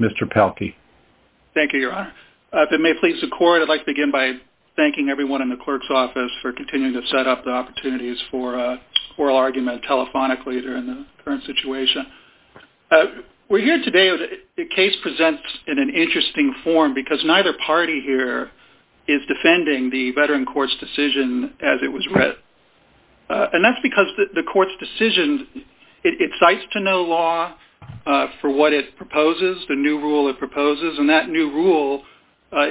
Mr. Pelkey. Thank you, Your Honor. If it may please the court, I'd like to begin by thanking everyone in the clerk's office for continuing to set up the opportunities for oral argument telephonically during the current situation. We're here today, the case presents in an interesting form because neither party here is defending the veteran court's decision as it was written. And that's because the court's decision, it cites to no law for what it proposes, the new rule it proposes, and that new rule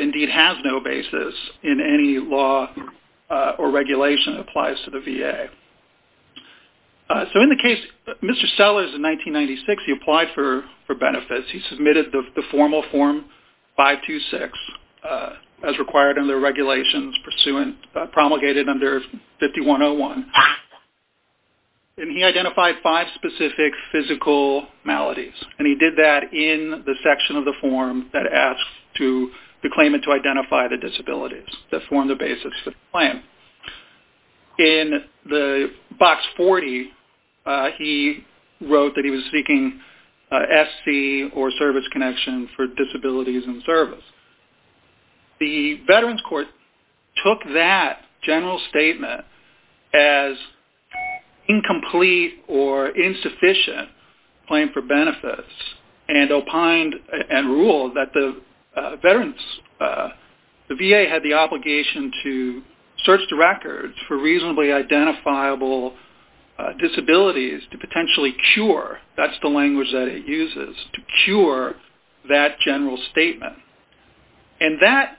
indeed has no basis in any law or regulation that applies to the VA. So in the case, Mr. Sellers in 1996, he applied for benefits. He submitted the formal form 526 as required under regulations promulgated under 5101. And he identified five specific physical maladies. And he did that in the section of the form that asks the claimant to identify the disabilities that form the basis of the plan. In the box 40, he wrote that he was seeking SC or service connection for disabilities in service. The veterans court took that general statement as incomplete or insufficient claim for benefits and opined and ruled that the veterans, the VA had the obligation to search the records for reasonably identifiable disabilities to potentially cure, that's the language that it uses, to cure that general statement. And that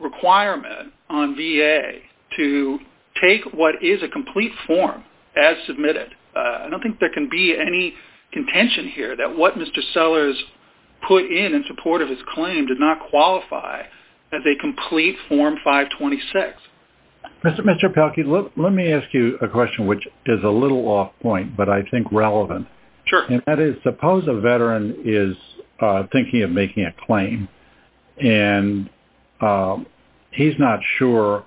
requirement on VA to take what is a complete form as submitted, I don't think there can be any contention here that what Mr. Sellers put in in support of his claim did not qualify as a complete form 526. Mr. Pelkey, let me ask you a question which is a little off point, but I think relevant. Sure. And that is suppose a veteran is thinking of making a claim and he's not sure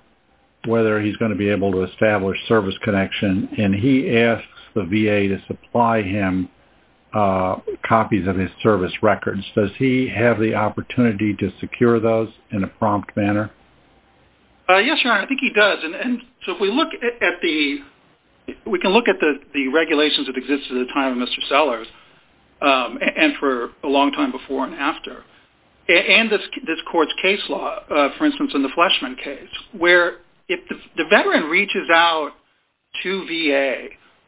whether he's going to be able to establish service connection and he asks the VA to supply him copies of his service records, does he have the opportunity to secure those in a prompt manner? Yes, your honor, I think he does. And so if we look at the, we can look at the regulations that exist at the time of Mr. Sellers and for a long time before and after. And this court's case law, for instance in the Fleshman case, where if the veteran reaches out to the VA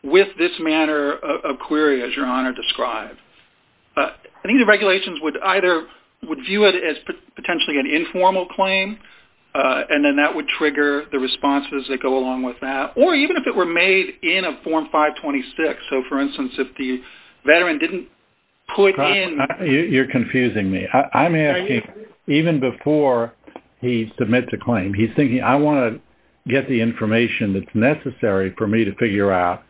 with this manner of query as your honor described, I think the regulations would either, would view it as potentially an informal claim and then that would trigger the responses that go along with that. Or even if it were made in a form 526. So for instance, if the veteran didn't put in- You're confusing me. I'm asking, even before he submits a claim, he's thinking, I want to get the information that's necessary for me to figure out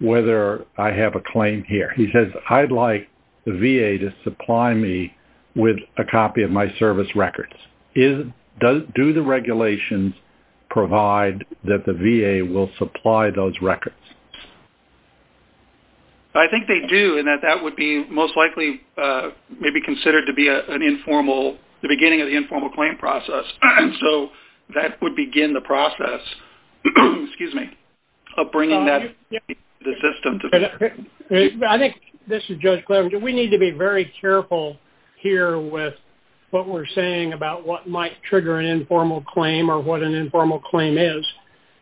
whether I have a claim here. He says, I'd like the VA to supply me with a copy of my service records. Do the regulations provide that the VA will supply those records? I think they do and that that would be most likely maybe considered to be an informal, the beginning of the informal claim process. So that would begin the process, excuse me, of bringing that to the system. I think, this is Judge Clarence, we need to be very careful here with what we're saying about what might trigger an informal claim or what an informal claim is.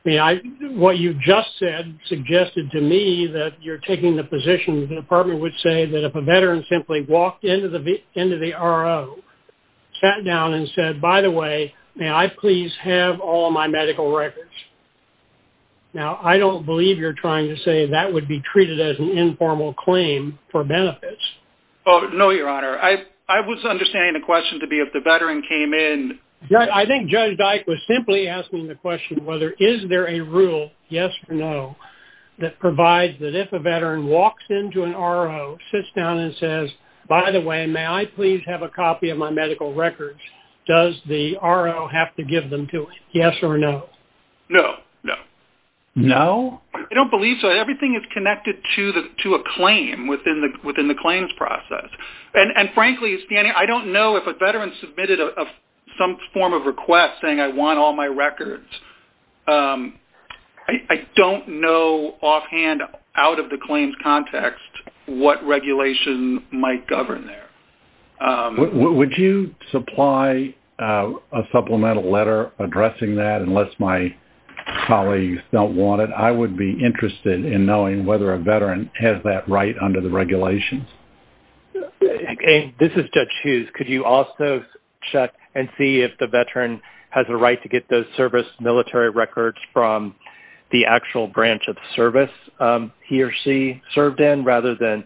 What you just said suggested to me that you're taking the position the department would say that if a veteran simply walked into the RO, sat down and said, by the way, may I please have all my medical records? Now, I don't believe you're trying to say that would be treated as an informal claim for benefits. No, Your Honor. I was understanding the question to be if the veteran came in- I think Judge Dyke was simply asking the question whether is there a rule, yes or no, that provides that if a veteran walks into an RO, sits down and says, by the way, may I please have a copy of my medical records? Does the RO have to give them to it, yes or no? No, no. No? I don't believe so. Everything is connected to a claim within the claims process. And frankly, I don't know if a veteran submitted some form of request saying I want all my And out of the claims context, what regulation might govern there? Would you supply a supplemental letter addressing that unless my colleagues don't want it? I would be interested in knowing whether a veteran has that right under the regulations. This is Judge Hughes. Could you also check and see if the veteran has a right to get those military records from the actual branch of service he or she served in rather than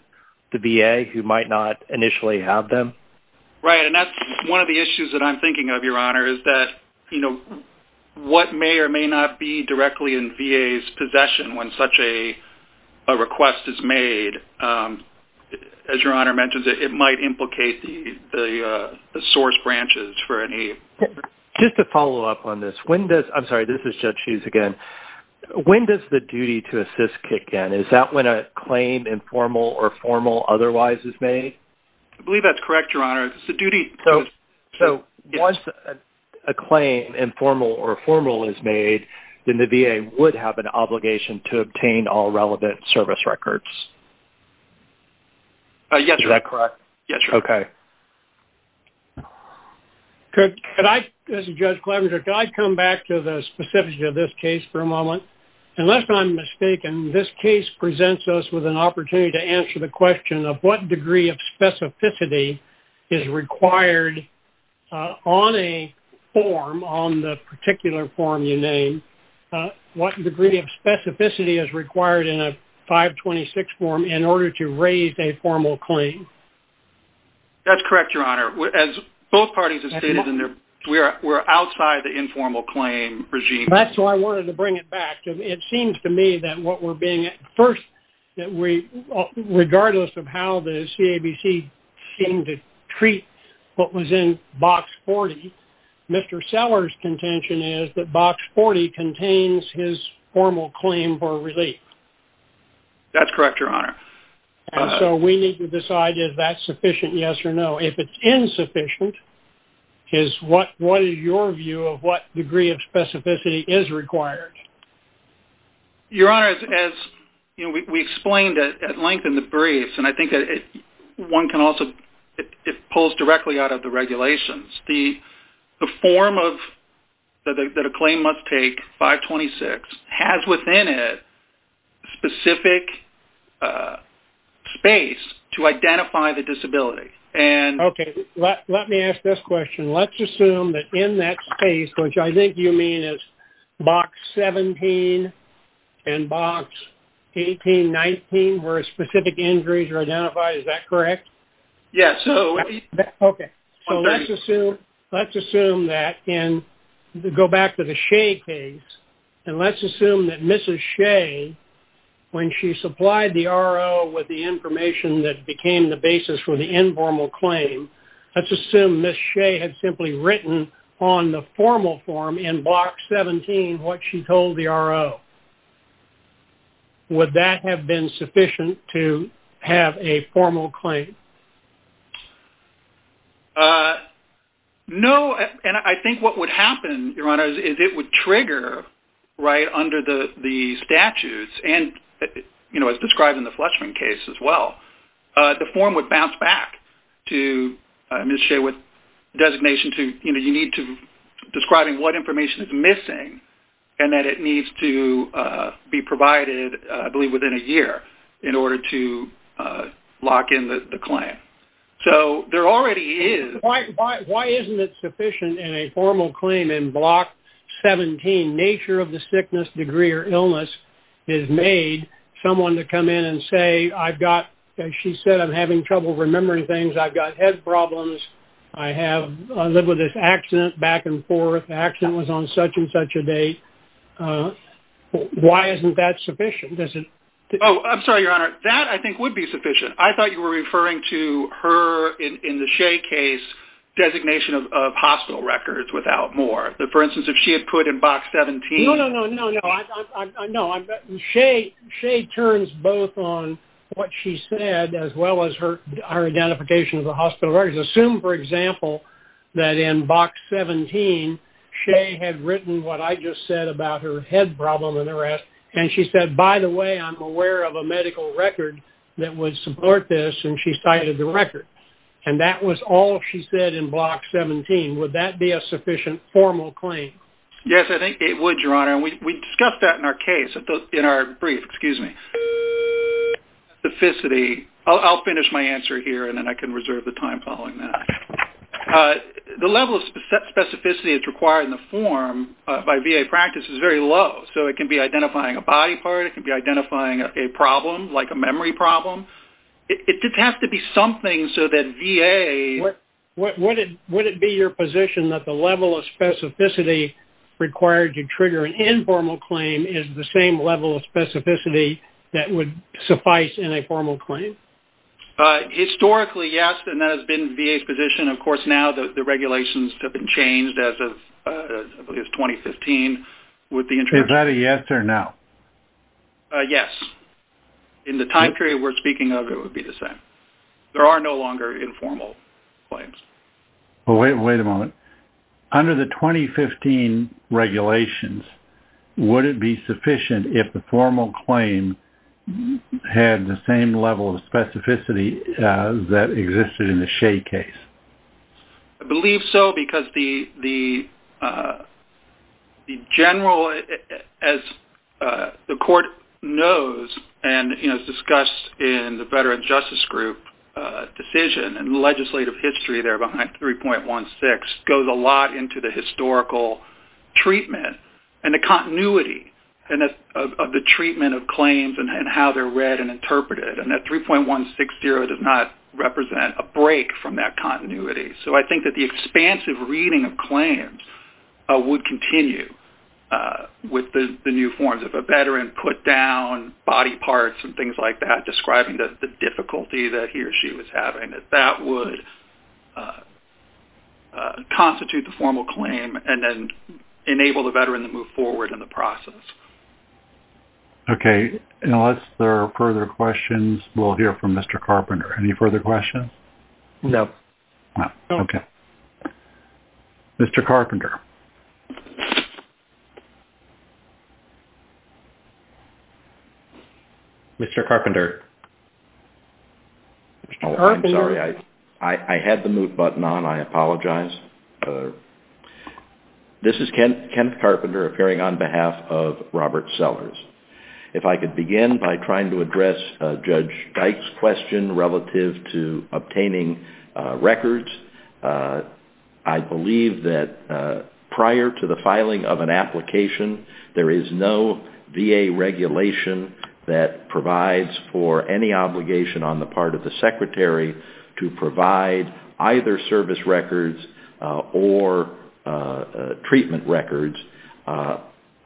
the VA who might not initially have them? Right. And that's one of the issues that I'm thinking of, Your Honor, is that, you know, what may or may not be directly in VA's possession when such a request is made, as Your Honor mentions, it might implicate the source branches for any- Just to follow up on this, when does-I'm sorry, this is Judge Hughes again. When does the duty to assist kick in? Is that when a claim, informal or formal, otherwise is made? I believe that's correct, Your Honor. It's a duty- So once a claim, informal or formal, is made, then the VA would have an obligation to obtain all relevant service records. Yes, Your Honor. Is that correct? Yes, Your Honor. Okay. Could I-this is Judge Clevenger-could I come back to the specificity of this case for a moment? Unless I'm mistaken, this case presents us with an opportunity to answer the question of what degree of specificity is required on a form, on the particular form you named, what degree of specificity is required in a 526 form in order to raise a formal claim? That's correct, Your Honor. As both parties have stated, we're outside the informal claim regime. That's why I wanted to bring it back. It seems to me that what we're being-first, that we-regardless of how the CABC seemed to treat what was in Box 40, Mr. Sellers' contention is that Box 40 contains his formal claim for relief. That's correct, Your Honor. And so we need to decide if that's sufficient, yes or no. If it's insufficient, what is your view of what degree of specificity is required? Your Honor, as we explained at length in the briefs, and I think that one can also-it pulls directly out of the regulations. The form that a claim must take, 526, has within it specific space to identify the disability. Okay, let me ask this question. Let's assume that in that space, which I think you mean is Box 17 and Box 18, 19, where specific injuries are identified, is that correct? Yes. Okay, so let's assume that in-go back to the Shea case, and let's assume that Mrs. Shea, when she supplied the RO with the information that became the basis for the informal claim, let's assume Mrs. Shea had simply written on the formal form in Box 17 what she told the RO. Would that have been sufficient to have a formal claim? No, and I think what would happen, Your Honor, is it would trigger right under the statutes, and as described in the Fletchman case as well, the form would bounce back to Mrs. Shea with designation to-you need to-describing what information is missing and that it needs to be provided, I believe, within a year in order to lock in the claim. Okay. So there already is- Why isn't it sufficient in a formal claim in Block 17, nature of the sickness, degree, or illness is made, someone to come in and say, I've got, as she said, I'm having trouble remembering things, I've got head problems, I have-I live with this accident back and forth, the accident was on such and such a date. Why isn't that sufficient? Oh, I'm sorry, Your Honor. That, I think, would be sufficient. I thought you were referring to her, in the Shea case, designation of hospital records without more. For instance, if she had put in Box 17- No, no, no, no, no. No, Shea turns both on what she said as well as her identification of the hospital records. Assume, for example, that in Box 17, Shea had written what I just said about her head problem and the rest, and she said, by the way, I'm aware of a medical record that would support this, and she cited the record. And that was all she said in Block 17. Would that be a sufficient formal claim? Yes, I think it would, Your Honor. And we discussed that in our case, in our brief. Excuse me. Specificity. I'll finish my answer here, and then I can reserve the time following that. The level of specificity that's required in the form by VA practice is very low. So, it can be identifying a body part. It can be identifying a problem, like a memory problem. It just has to be something so that VA- Would it be your position that the level of specificity required to trigger an informal claim is the same level of specificity that would suffice in a formal claim? Historically, yes, and that has been VA's position. Of course, now the regulations have been changed as of, I believe, 2015, with the introduction- Is that a yes or no? Yes. In the time period we're speaking of, it would be the same. There are no longer informal claims. Wait a moment. Under the 2015 regulations, would it be sufficient if the formal claim had the same level of specificity that existed in the Shea case? I believe so, because the general- As the Court knows and has discussed in the Veteran Justice Group decision and the legislative history there behind 3.16 goes a lot into the historical treatment and the continuity of the treatment of claims and how they're read and interpreted. And that 3.160 does not represent a break from that continuity. So, I think that the expansive reading of claims would continue with the new forms. If a veteran put down body parts and things like that, describing the difficulty that he or she was having, that that would constitute the formal claim and then enable the veteran to move forward in the process. Okay. Unless there are further questions, we'll hear from Mr. Carpenter. Any further questions? No. Okay. Mr. Carpenter. Mr. Carpenter. Oh, I'm sorry. I had the mute button on. I apologize. This is Kenneth Carpenter appearing on behalf of Robert Sellers. If I could begin by trying to address Judge Dyke's question relative to obtaining records. I believe that prior to the filing of an application, there is no VA regulation that provides for any obligation on the part of the secretary to provide either service records or treatment records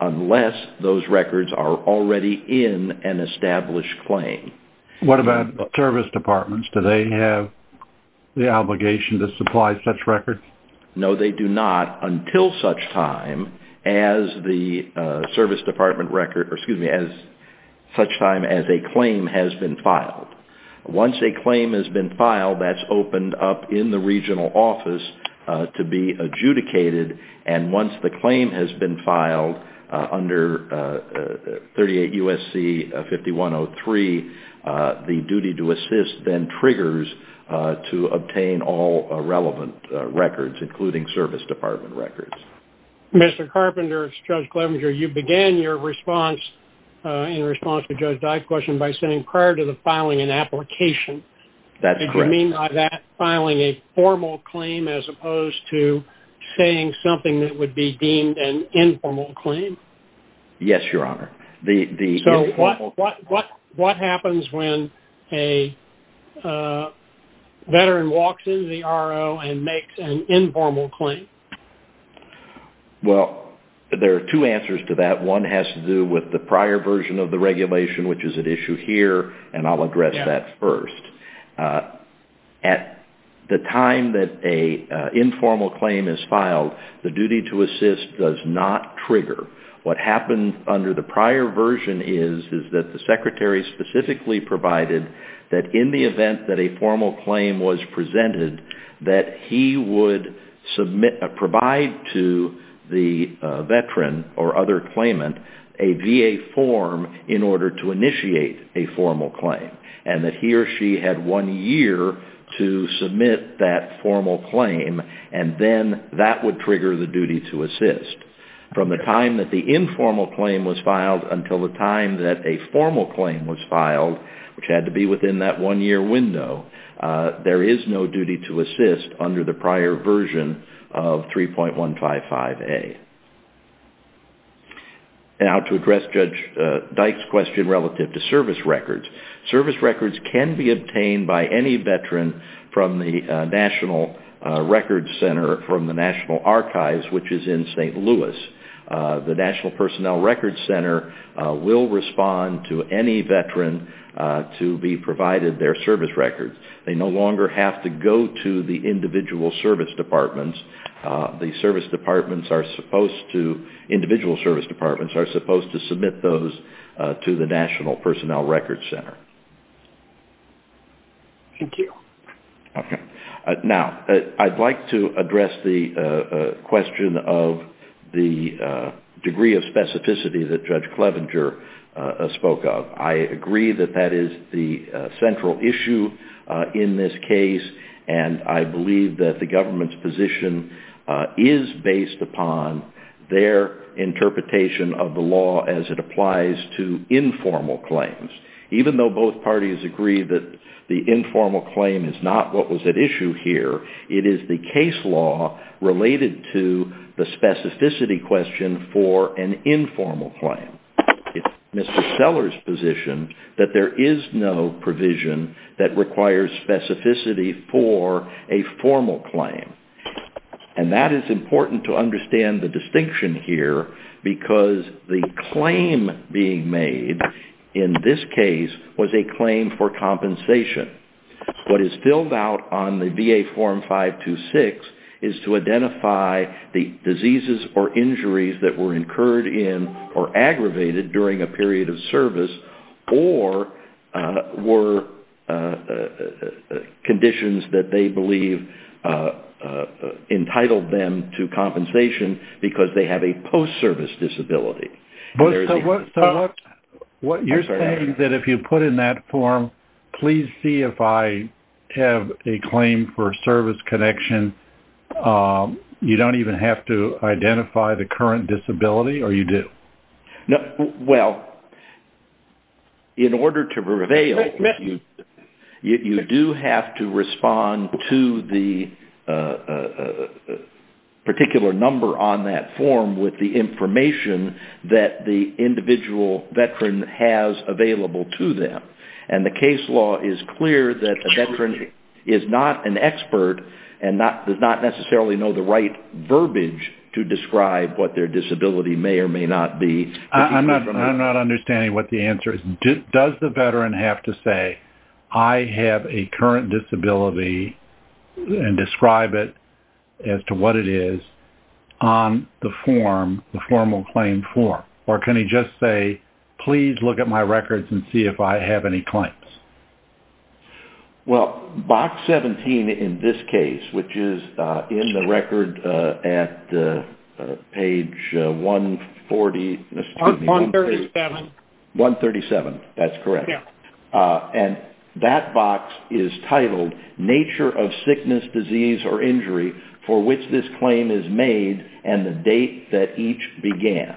unless those records are already in an established claim. What about service departments? Do they have the obligation to supply such records? No, they do not until such time as a claim has been filed. Once a claim has been filed, that's opened up in the regional office to be adjudicated. And once the claim has been filed under 38 U.S.C. 5103, the duty to assist then triggers to obtain all relevant records, including service department records. Mr. Carpenter, it's Judge Clevenger. You began your response in response to Judge Dyke's question by saying prior to the filing an application. That's correct. Did you mean by that filing a formal claim as opposed to saying something that would be deemed an informal claim? Yes, Your Honor. So what happens when a veteran walks into the RO and makes an informal claim? Well, there are two answers to that. One has to do with the prior version of the regulation, which is at issue here, and I'll address that first. At the time that an informal claim is filed, the duty to assist does not trigger. What happened under the prior version is that the Secretary specifically provided that in the event that a formal claim was presented, that he would provide to the veteran or other claimant a VA form in order to initiate a formal claim, and that he or she had one year to submit that formal claim, and then that would trigger the duty to assist. From the time that the informal claim was filed until the time that a formal claim was filed, which had to be within that one year window, there is no duty to assist under the prior version of 3.155A. Now to address Judge Dyke's question relative to service records. Service records can be obtained by any veteran from the National Archives, which is in St. Louis. The National Personnel Records Center will respond to any veteran to be provided their service records. They no longer have to go to the individual service departments. Individual service departments are supposed to submit those to the National Personnel Records Center. Thank you. Now, I'd like to address the question of the degree of specificity that Judge Clevenger spoke of. I agree that that is the central issue in this case, and I believe that the government's position is based upon their interpretation of the law as it applies to informal claims. Even though both parties agree that the informal claim is not what was at issue here, it is the case law related to the specificity question for an informal claim. It's Mr. Seller's position that there is no provision that requires specificity for a formal claim. That is important to understand the distinction here because the claim being made in this case was a claim for compensation. What is filled out on the VA Form 526 is to identify the diseases or injuries that were incurred in or aggravated during a period of service or were conditions that they believe entitled them to compensation because they have a post-service disability. You're saying that if you put in that form, please see if I have a claim for service connection, you don't even have to identify the current disability or you do? Well, in order to prevail, you do have to respond to the particular number on that form with the information that the individual veteran has available to them. The case law is clear that the veteran is not an expert and does not necessarily know the right verbiage to describe what their disability may or may not be. I'm not understanding what the answer is. Does the veteran have to say, I have a current disability and describe it as to what it is on the formal claim form? Or can he just say, please look at my records and see if I have any claims? Well, Box 17 in this case, which is in the record at page 140. 137. 137, that's correct. And that box is titled nature of sickness, disease, or injury for which this claim is made and the date that each began.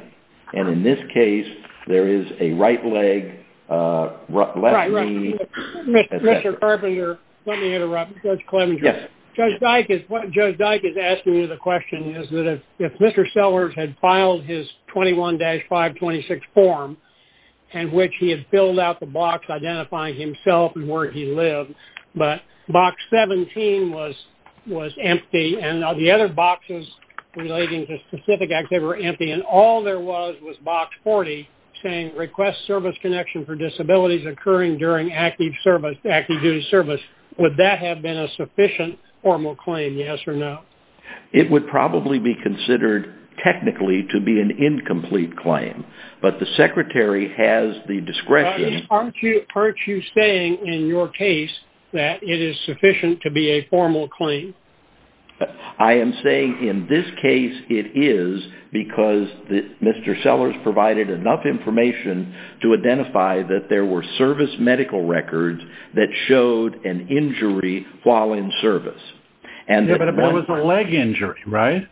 And in this case, there is a right leg, left knee. Right, right. Mr. Carpenter, let me interrupt. Yes. Judge Dyke is asking you the question is that if Mr. Sellers had filed his 21-526 form in which he had filled out the box identifying himself and where he lived, but Box 17 was empty and the other boxes relating to specific acts, they were empty. And all there was was Box 40 saying request service connection for disabilities occurring during active duty service. Would that have been a sufficient formal claim, yes or no? It would probably be considered technically to be an incomplete claim. But the secretary has the discretion. Aren't you saying in your case that it is sufficient to be a formal claim? I am saying in this case it is because Mr. Sellers provided enough information to identify that there were service medical records that showed an injury while in service. But it was a leg injury, right?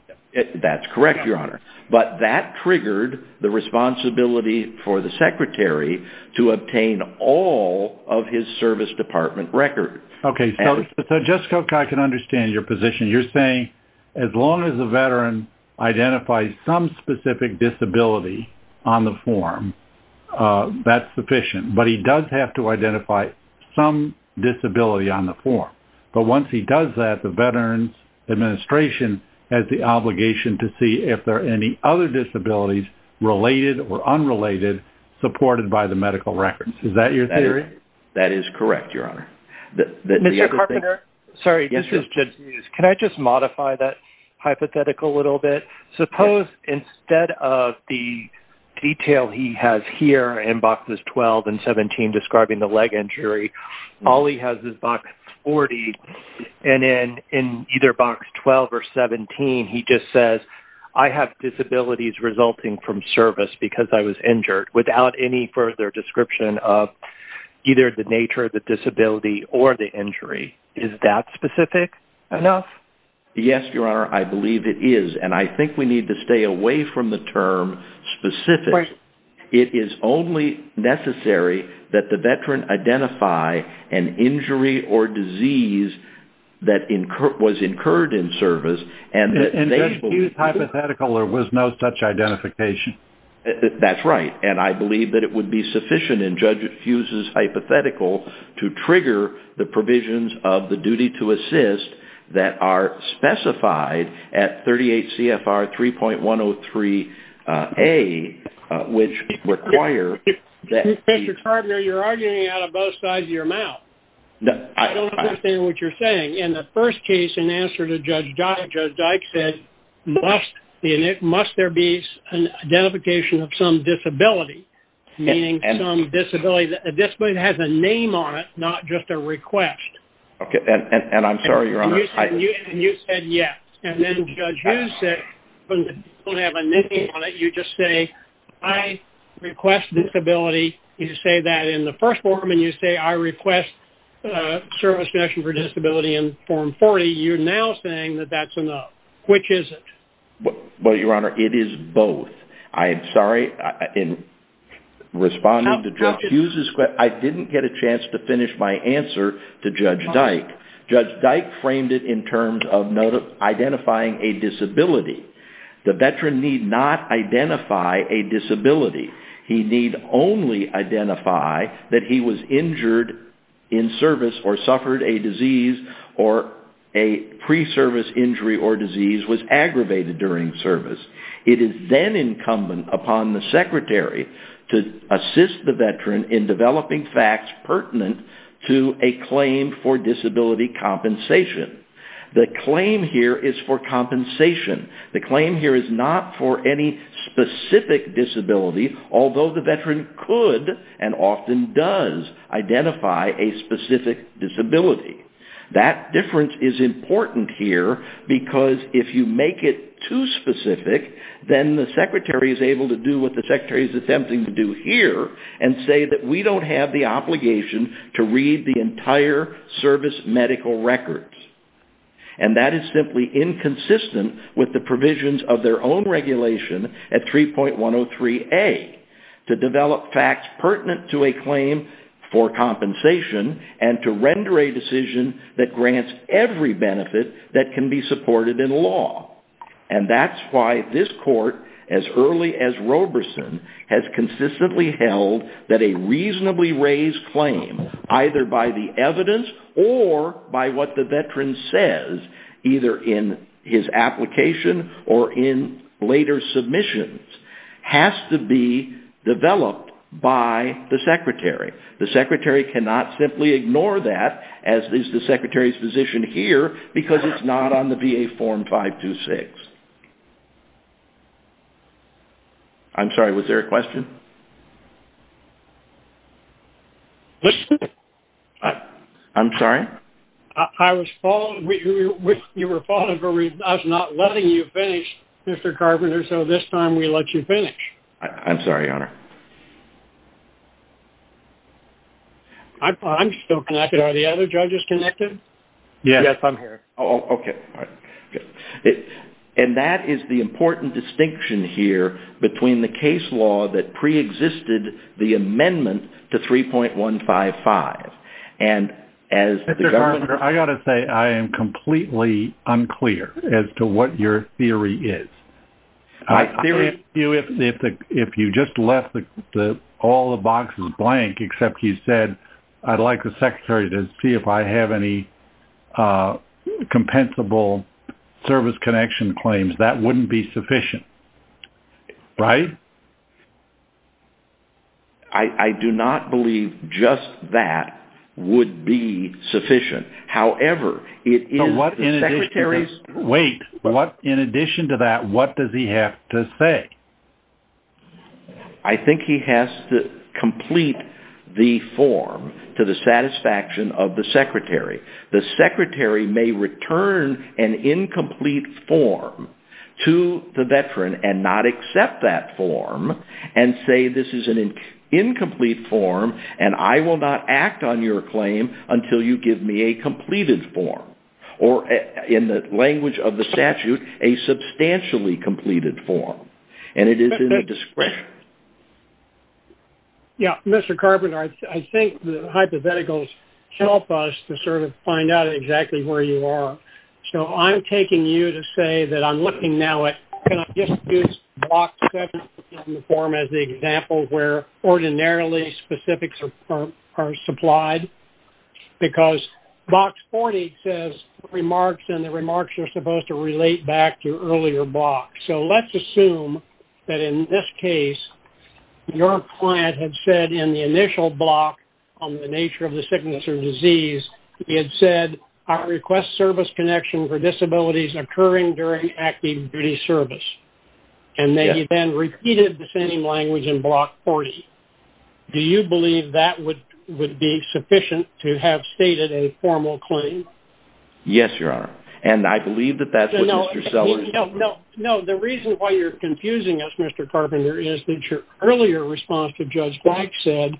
That's correct, Your Honor. But that triggered the responsibility for the secretary to obtain all of his service department records. Okay, so Jessica, I can understand your position. You're saying as long as a veteran identifies some specific disability on the form, that's sufficient. But he does have to identify some disability on the form. But once he does that, the Veterans Administration has the obligation to see if there are any other disabilities related or unrelated supported by the medical records. Is that your theory? That is correct, Your Honor. Mr. Carpenter, can I just modify that hypothetical a little bit? Suppose instead of the detail he has here in boxes 12 and 17 describing the leg injury, all he has is box 40. And then in either box 12 or 17, he just says, I have disabilities resulting from service because I was injured without any further description of either the nature of the disability or the injury. Is that specific enough? Yes, Your Honor, I believe it is. And I think we need to stay away from the term specific. It is only necessary that the veteran identify an injury or disease that was incurred in service. And Judge Hughes' hypothetical, there was no such identification. That's right. And I believe that it would be sufficient in Judge Hughes' hypothetical to trigger the provisions of the duty to assist that are specified at 38 CFR 3.103A, which require that... Mr. Carpenter, you're arguing out of both sides of your mouth. In the first case, in answer to Judge Dyke, Judge Dyke said, must there be an identification of some disability, meaning some disability that has a name on it, not just a request. And I'm sorry, Your Honor. And you said yes. And then Judge Hughes said, you don't have a name on it. You just say, I request disability. You say that in the first form, and you say, I request service connection for disability in form 40. You're now saying that that's enough. Which is it? Well, Your Honor, it is both. I'm sorry, in responding to Judge Hughes' question, I didn't get a chance to finish my answer to Judge Dyke. Judge Dyke framed it in terms of identifying a disability. The veteran need not identify a disability. He need only identify that he was injured in service or suffered a disease or a pre-service injury or disease, was aggravated during service. It is then incumbent upon the secretary to assist the veteran in developing facts pertinent to a claim for disability compensation. The claim here is for compensation. The claim here is not for any specific disability, although the veteran could and often does identify a specific disability. That difference is important here because if you make it too specific, then the secretary is able to do what the secretary is attempting to do here and say that we don't have the obligation to read the entire service medical records. And that is simply inconsistent with the provisions of their own regulation at 3.103A, to develop facts pertinent to a claim for compensation and to render a decision that grants every benefit that can be supported in law. And that's why this court, as early as Roberson, has consistently held that a reasonably raised claim, either by the evidence or by what the veteran says, either in his application or in later submissions, has to be developed by the secretary. The secretary cannot simply ignore that, as is the secretary's position here, because it's not on the VA Form 526. I'm sorry, was there a question? I'm sorry? I was following, you were following, but I was not letting you finish, Mr. Carpenter, so this time we let you finish. I'm sorry, Your Honor. I'm still connected. Are the other judges connected? Yes, I'm here. Okay. And that is the important distinction here between the case law that preexisted the amendment to 3.155, and as the government- Mr. Carpenter, I've got to say, I am completely unclear as to what your theory is. If you just left all the boxes blank, except you said, I'd like the secretary to see if I have any compensable service connection claims, that wouldn't be sufficient, right? I do not believe just that would be sufficient. Wait, in addition to that, what does he have to say? I think he has to complete the form to the satisfaction of the secretary. The secretary may return an incomplete form to the veteran and not accept that form and say, this is an incomplete form, and I will not act on your claim until you give me a completed form, or in the language of the statute, a substantially completed form. And it is in the discretion- Yeah, Mr. Carpenter, I think the hypotheticals help us to sort of find out exactly where you are. So I'm taking you to say that I'm looking now at, can I just use Block 7 in the form as the example where ordinarily specifics are supplied? Because Block 40 says remarks, and the remarks are supposed to relate back to earlier blocks. So let's assume that in this case, your client had said in the initial block on the nature of the sickness or disease, he had said, I request service connection for disabilities occurring during active duty service. And then he then repeated the same language in Block 40. Do you believe that would be sufficient to have stated a formal claim? Yes, Your Honor. And I believe that that's what Mr. Sellers- No, the reason why you're confusing us, Mr. Carpenter, is that your earlier response to Judge Black said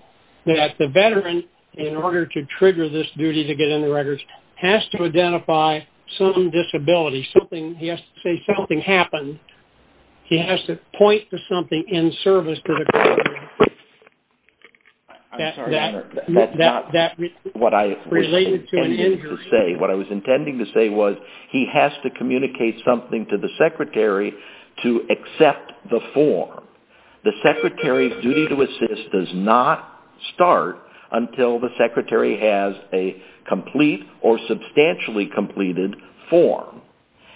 that the veteran, in order to trigger this duty to get into records, has to identify some disability. He has to say something happened. He has to point to something in service to the- I'm sorry, Your Honor. What I was intending to say was he has to communicate something to the secretary to accept the form. The secretary's duty to assist does not start until the secretary has a complete or substantially completed form.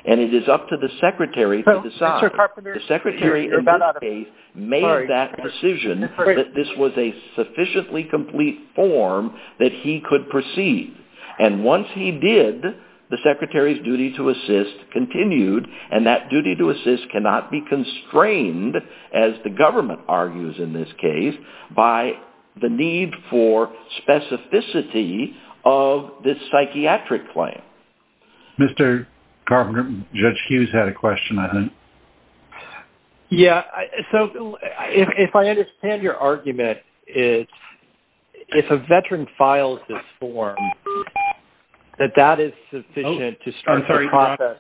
And it is up to the secretary to decide. The secretary, in this case, made that decision that this was a sufficiently complete form that he could proceed. And once he did, the secretary's duty to assist continued, and that duty to assist cannot be constrained, as the government argues in this case, by the need for specificity of this psychiatric claim. Mr. Carpenter, Judge Hughes had a question, I think. Yeah. So, if I understand your argument, it's if a veteran files this form, that that is sufficient to start the process.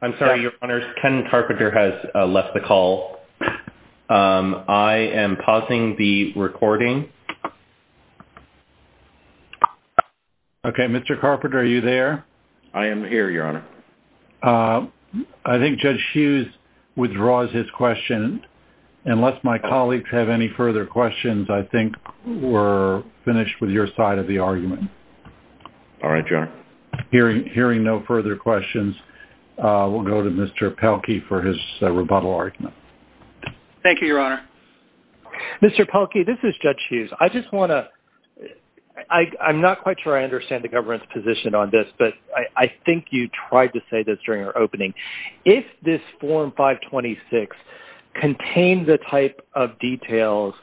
I'm sorry, Your Honor. Ken Carpenter has left the call. I am pausing the recording. Okay, Mr. Carpenter, are you there? I am here, Your Honor. I think Judge Hughes withdraws his question. Unless my colleagues have any further questions, I think we're finished with your side of the argument. All right, Your Honor. Hearing no further questions, we'll go to Mr. Pelkey for his rebuttal argument. Thank you, Your Honor. Mr. Pelkey, this is Judge Hughes. I just want to-I'm not quite sure I understand the government's position on this, but I think you tried to say this during our opening. If this Form 526 contained the type of details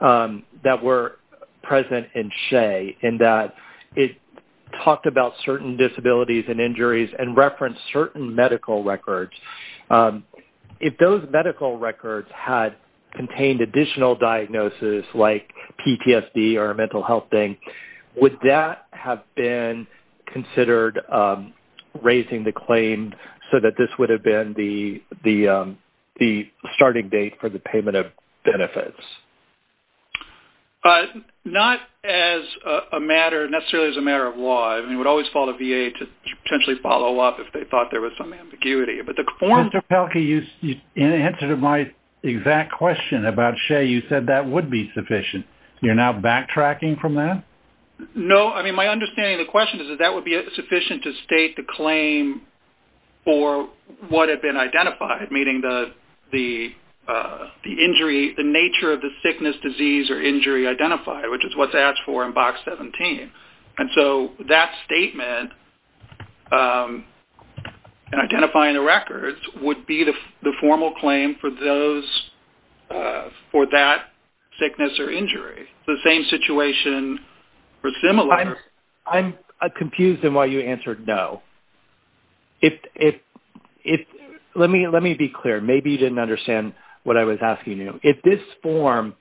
that were present in SHEA, in that it talked about certain disabilities and injuries and referenced certain medical records, if those medical records had contained additional diagnosis like PTSD or a mental health thing, would that have been considered raising the claim so that this would have been the starting date for the payment of benefits? Not as a matter-necessarily as a matter of law. I mean, it would always fall to VA to potentially follow up if they thought there was some ambiguity. Mr. Pelkey, in answer to my exact question about SHEA, you said that would be sufficient. You're now backtracking from that? No. I mean, my understanding of the question is that that would be sufficient to state the claim for what had been identified, meaning the injury-the nature of the sickness, disease, or injury identified, which is what's asked for in Box 17. And so that statement and identifying the records would be the formal claim for that sickness or injury. It's the same situation for similar- I'm confused in why you answered no. Let me be clear. Maybe you didn't understand what I was asking you. If this form,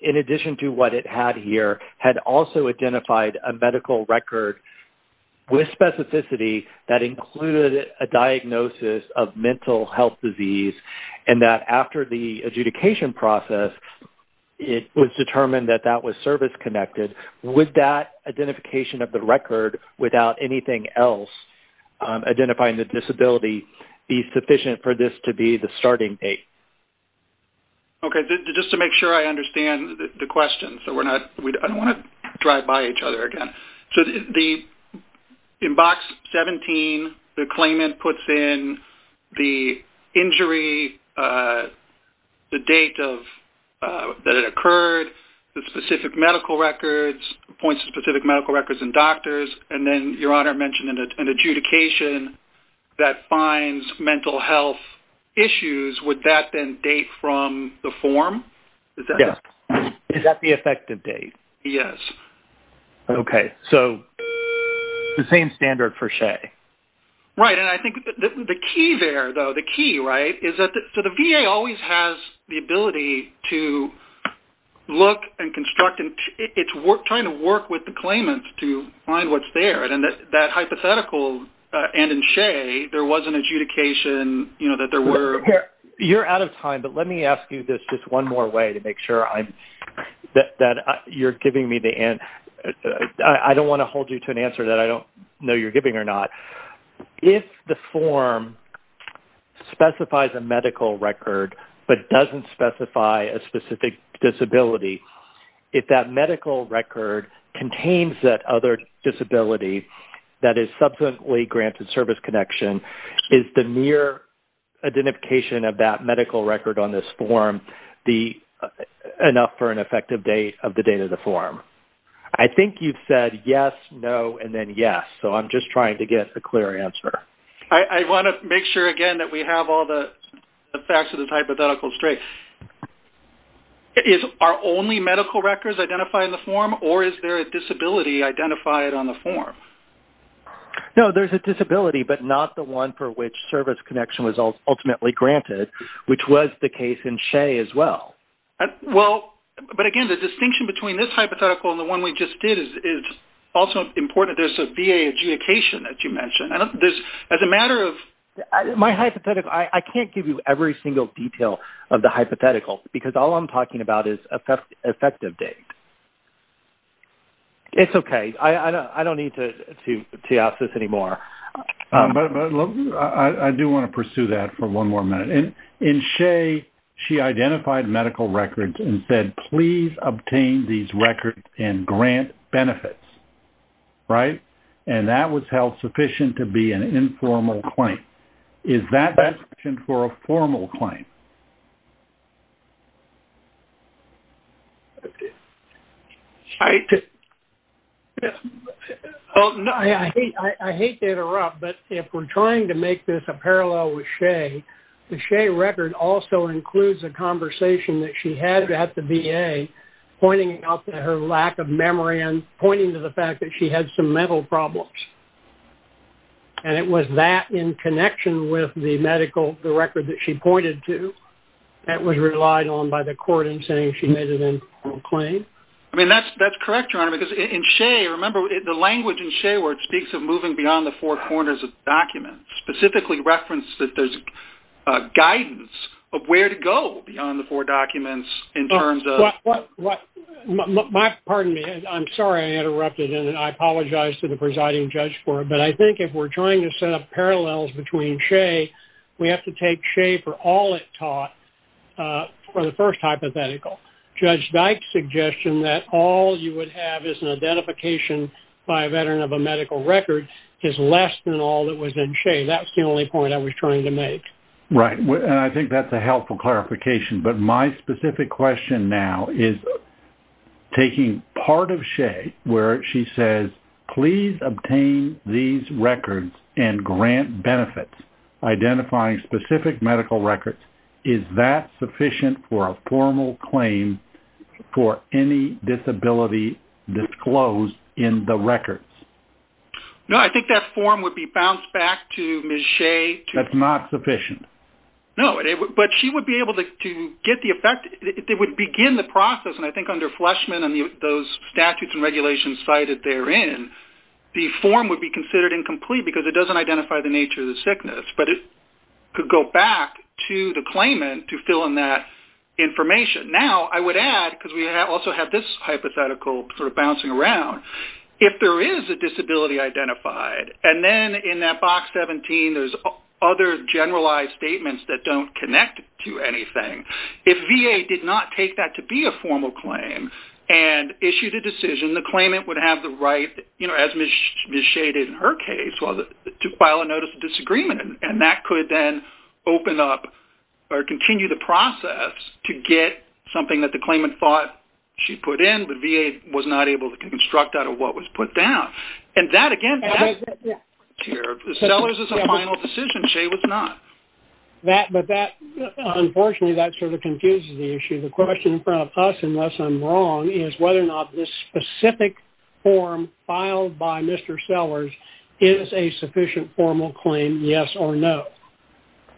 in addition to what it had here, had also identified a medical record with specificity that included a diagnosis of mental health disease and that after the adjudication process it was determined that that was service-connected, would that identification of the record without anything else identifying the disability be sufficient for this to be the starting date? Okay. Just to make sure I understand the question so I don't want to drive by each other again. In Box 17, the claimant puts in the injury, the date that it occurred, the specific medical records, points to specific medical records and doctors, and then, Your Honor mentioned an adjudication that finds mental health issues. Would that then date from the form? Yes. Is that the effective date? Yes. Okay. So, the same standard for Shay. Right. And I think the key there, though, the key, right, is that the VA always has the ability to look and construct and it's trying to work with the claimant to find what's there. And that hypothetical, and in Shay, there was an adjudication, you know, that there were- You're out of time, but let me ask you this just one more way to make sure that you're giving me the answer. I don't want to hold you to an answer that I don't know you're giving or not. If the form specifies a medical record but doesn't specify a specific disability, if that medical record contains that other disability that is subsequently granted service connection, is the mere identification of that medical record on this form enough for an effective date of the date of the form? I think you've said yes, no, and then yes. So, I'm just trying to get a clear answer. I want to make sure, again, that we have all the facts of the hypothetical straight. Are only medical records identified in the form, or is there a disability identified on the form? No, there's a disability, but not the one for which service connection was ultimately granted, which was the case in Shay as well. Well, but again, the distinction between this hypothetical and the one we just did is also important. There's a VA adjudication that you mentioned. As a matter of- My hypothetical- I can't give you every single detail of the hypothetical, because all I'm talking about is effective date. It's okay. I don't need to tease this anymore. I do want to pursue that for one more minute. In Shay, she identified medical records and said, please obtain these records and grant benefits, right? And that was held sufficient to be an informal claim. Is that sufficient for a formal claim? I hate to interrupt, but if we're trying to make this a parallel with Shay, the Shay record also includes a conversation that she had at the VA, pointing out that her lack of memory and pointing to the fact that she had some mental problems. And it was that in connection with the medical record that she pointed to. That was relied on by the court in saying she made an informal claim. I mean, that's correct, Your Honor, because in Shay, remember, the language in Shay where it speaks of moving beyond the four corners of documents specifically referenced that there's guidance of where to go beyond the four documents in terms of- Pardon me. I'm sorry I interrupted, and I apologize to the presiding judge for it. But I think if we're trying to set up parallels between Shay, we have to take Shay for all it taught for the first hypothetical. Judge Dyke's suggestion that all you would have is an identification by a veteran of a medical record is less than all that was in Shay. That was the only point I was trying to make. Right. And I think that's a helpful clarification. But my specific question now is taking part of Shay where she says, please obtain these records and grant benefits, identifying specific medical records, is that sufficient for a formal claim for any disability disclosed in the records? No, I think that form would be bounced back to Ms. Shay. That's not sufficient? No, but she would be able to get the effect-it would begin the process, and I think under Fleshman and those statutes and regulations cited therein, the form would be considered incomplete because it doesn't identify the nature of the sickness. But it could go back to the claimant to fill in that information. Now, I would add, because we also have this hypothetical sort of bouncing around, if there is a disability identified, and then in that box 17, there's other generalized statements that don't connect to anything, if VA did not take that to be a formal claim and issued a decision, the claimant would have the right, as Ms. Shay did in her case, to file a notice of disagreement. And that could then open up or continue the process to get something that the And that again, Sellers is a final decision. Shay was not. Unfortunately, that sort of confuses the issue. The question in front of us, unless I'm wrong, is whether or not this specific form filed by Mr. Sellers is a sufficient formal claim, yes or no.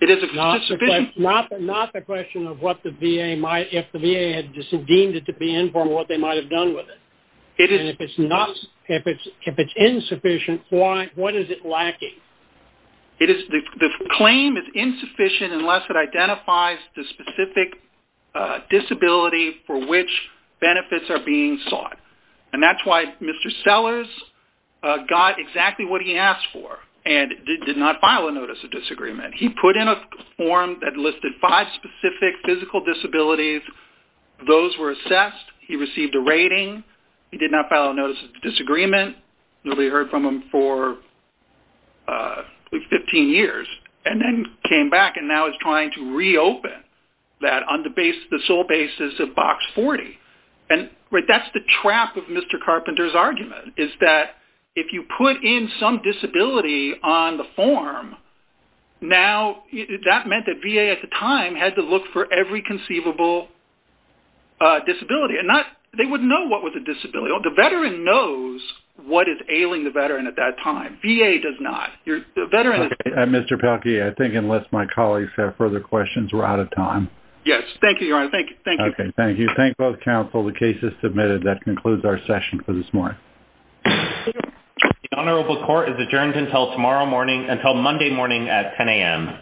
It is a sufficient- Not the question of what the VA might-if the VA had deemed it to be informal, what they might have done with it. And if it's insufficient, what is it lacking? The claim is insufficient unless it identifies the specific disability for which benefits are being sought. And that's why Mr. Sellers got exactly what he asked for and did not file a notice of disagreement. He put in a form that listed five specific physical disabilities. Those were assessed. He received a rating. He did not file a notice of disagreement. Nobody heard from him for 15 years and then came back and now is trying to reopen that on the sole basis of Box 40. And that's the trap of Mr. Carpenter's argument, is that if you put in some disability on the form, that meant that VA at the time had to look for every conceivable disability. They wouldn't know what was a disability. The veteran knows what is ailing the veteran at that time. VA does not. Mr. Pelkey, I think unless my colleagues have further questions, we're out of time. Yes, thank you, Your Honor. Thank you. Okay, thank you. Thank both counsel. The case is submitted. That concludes our session for this morning. The honorable court is adjourned until Monday morning at 10 a.m.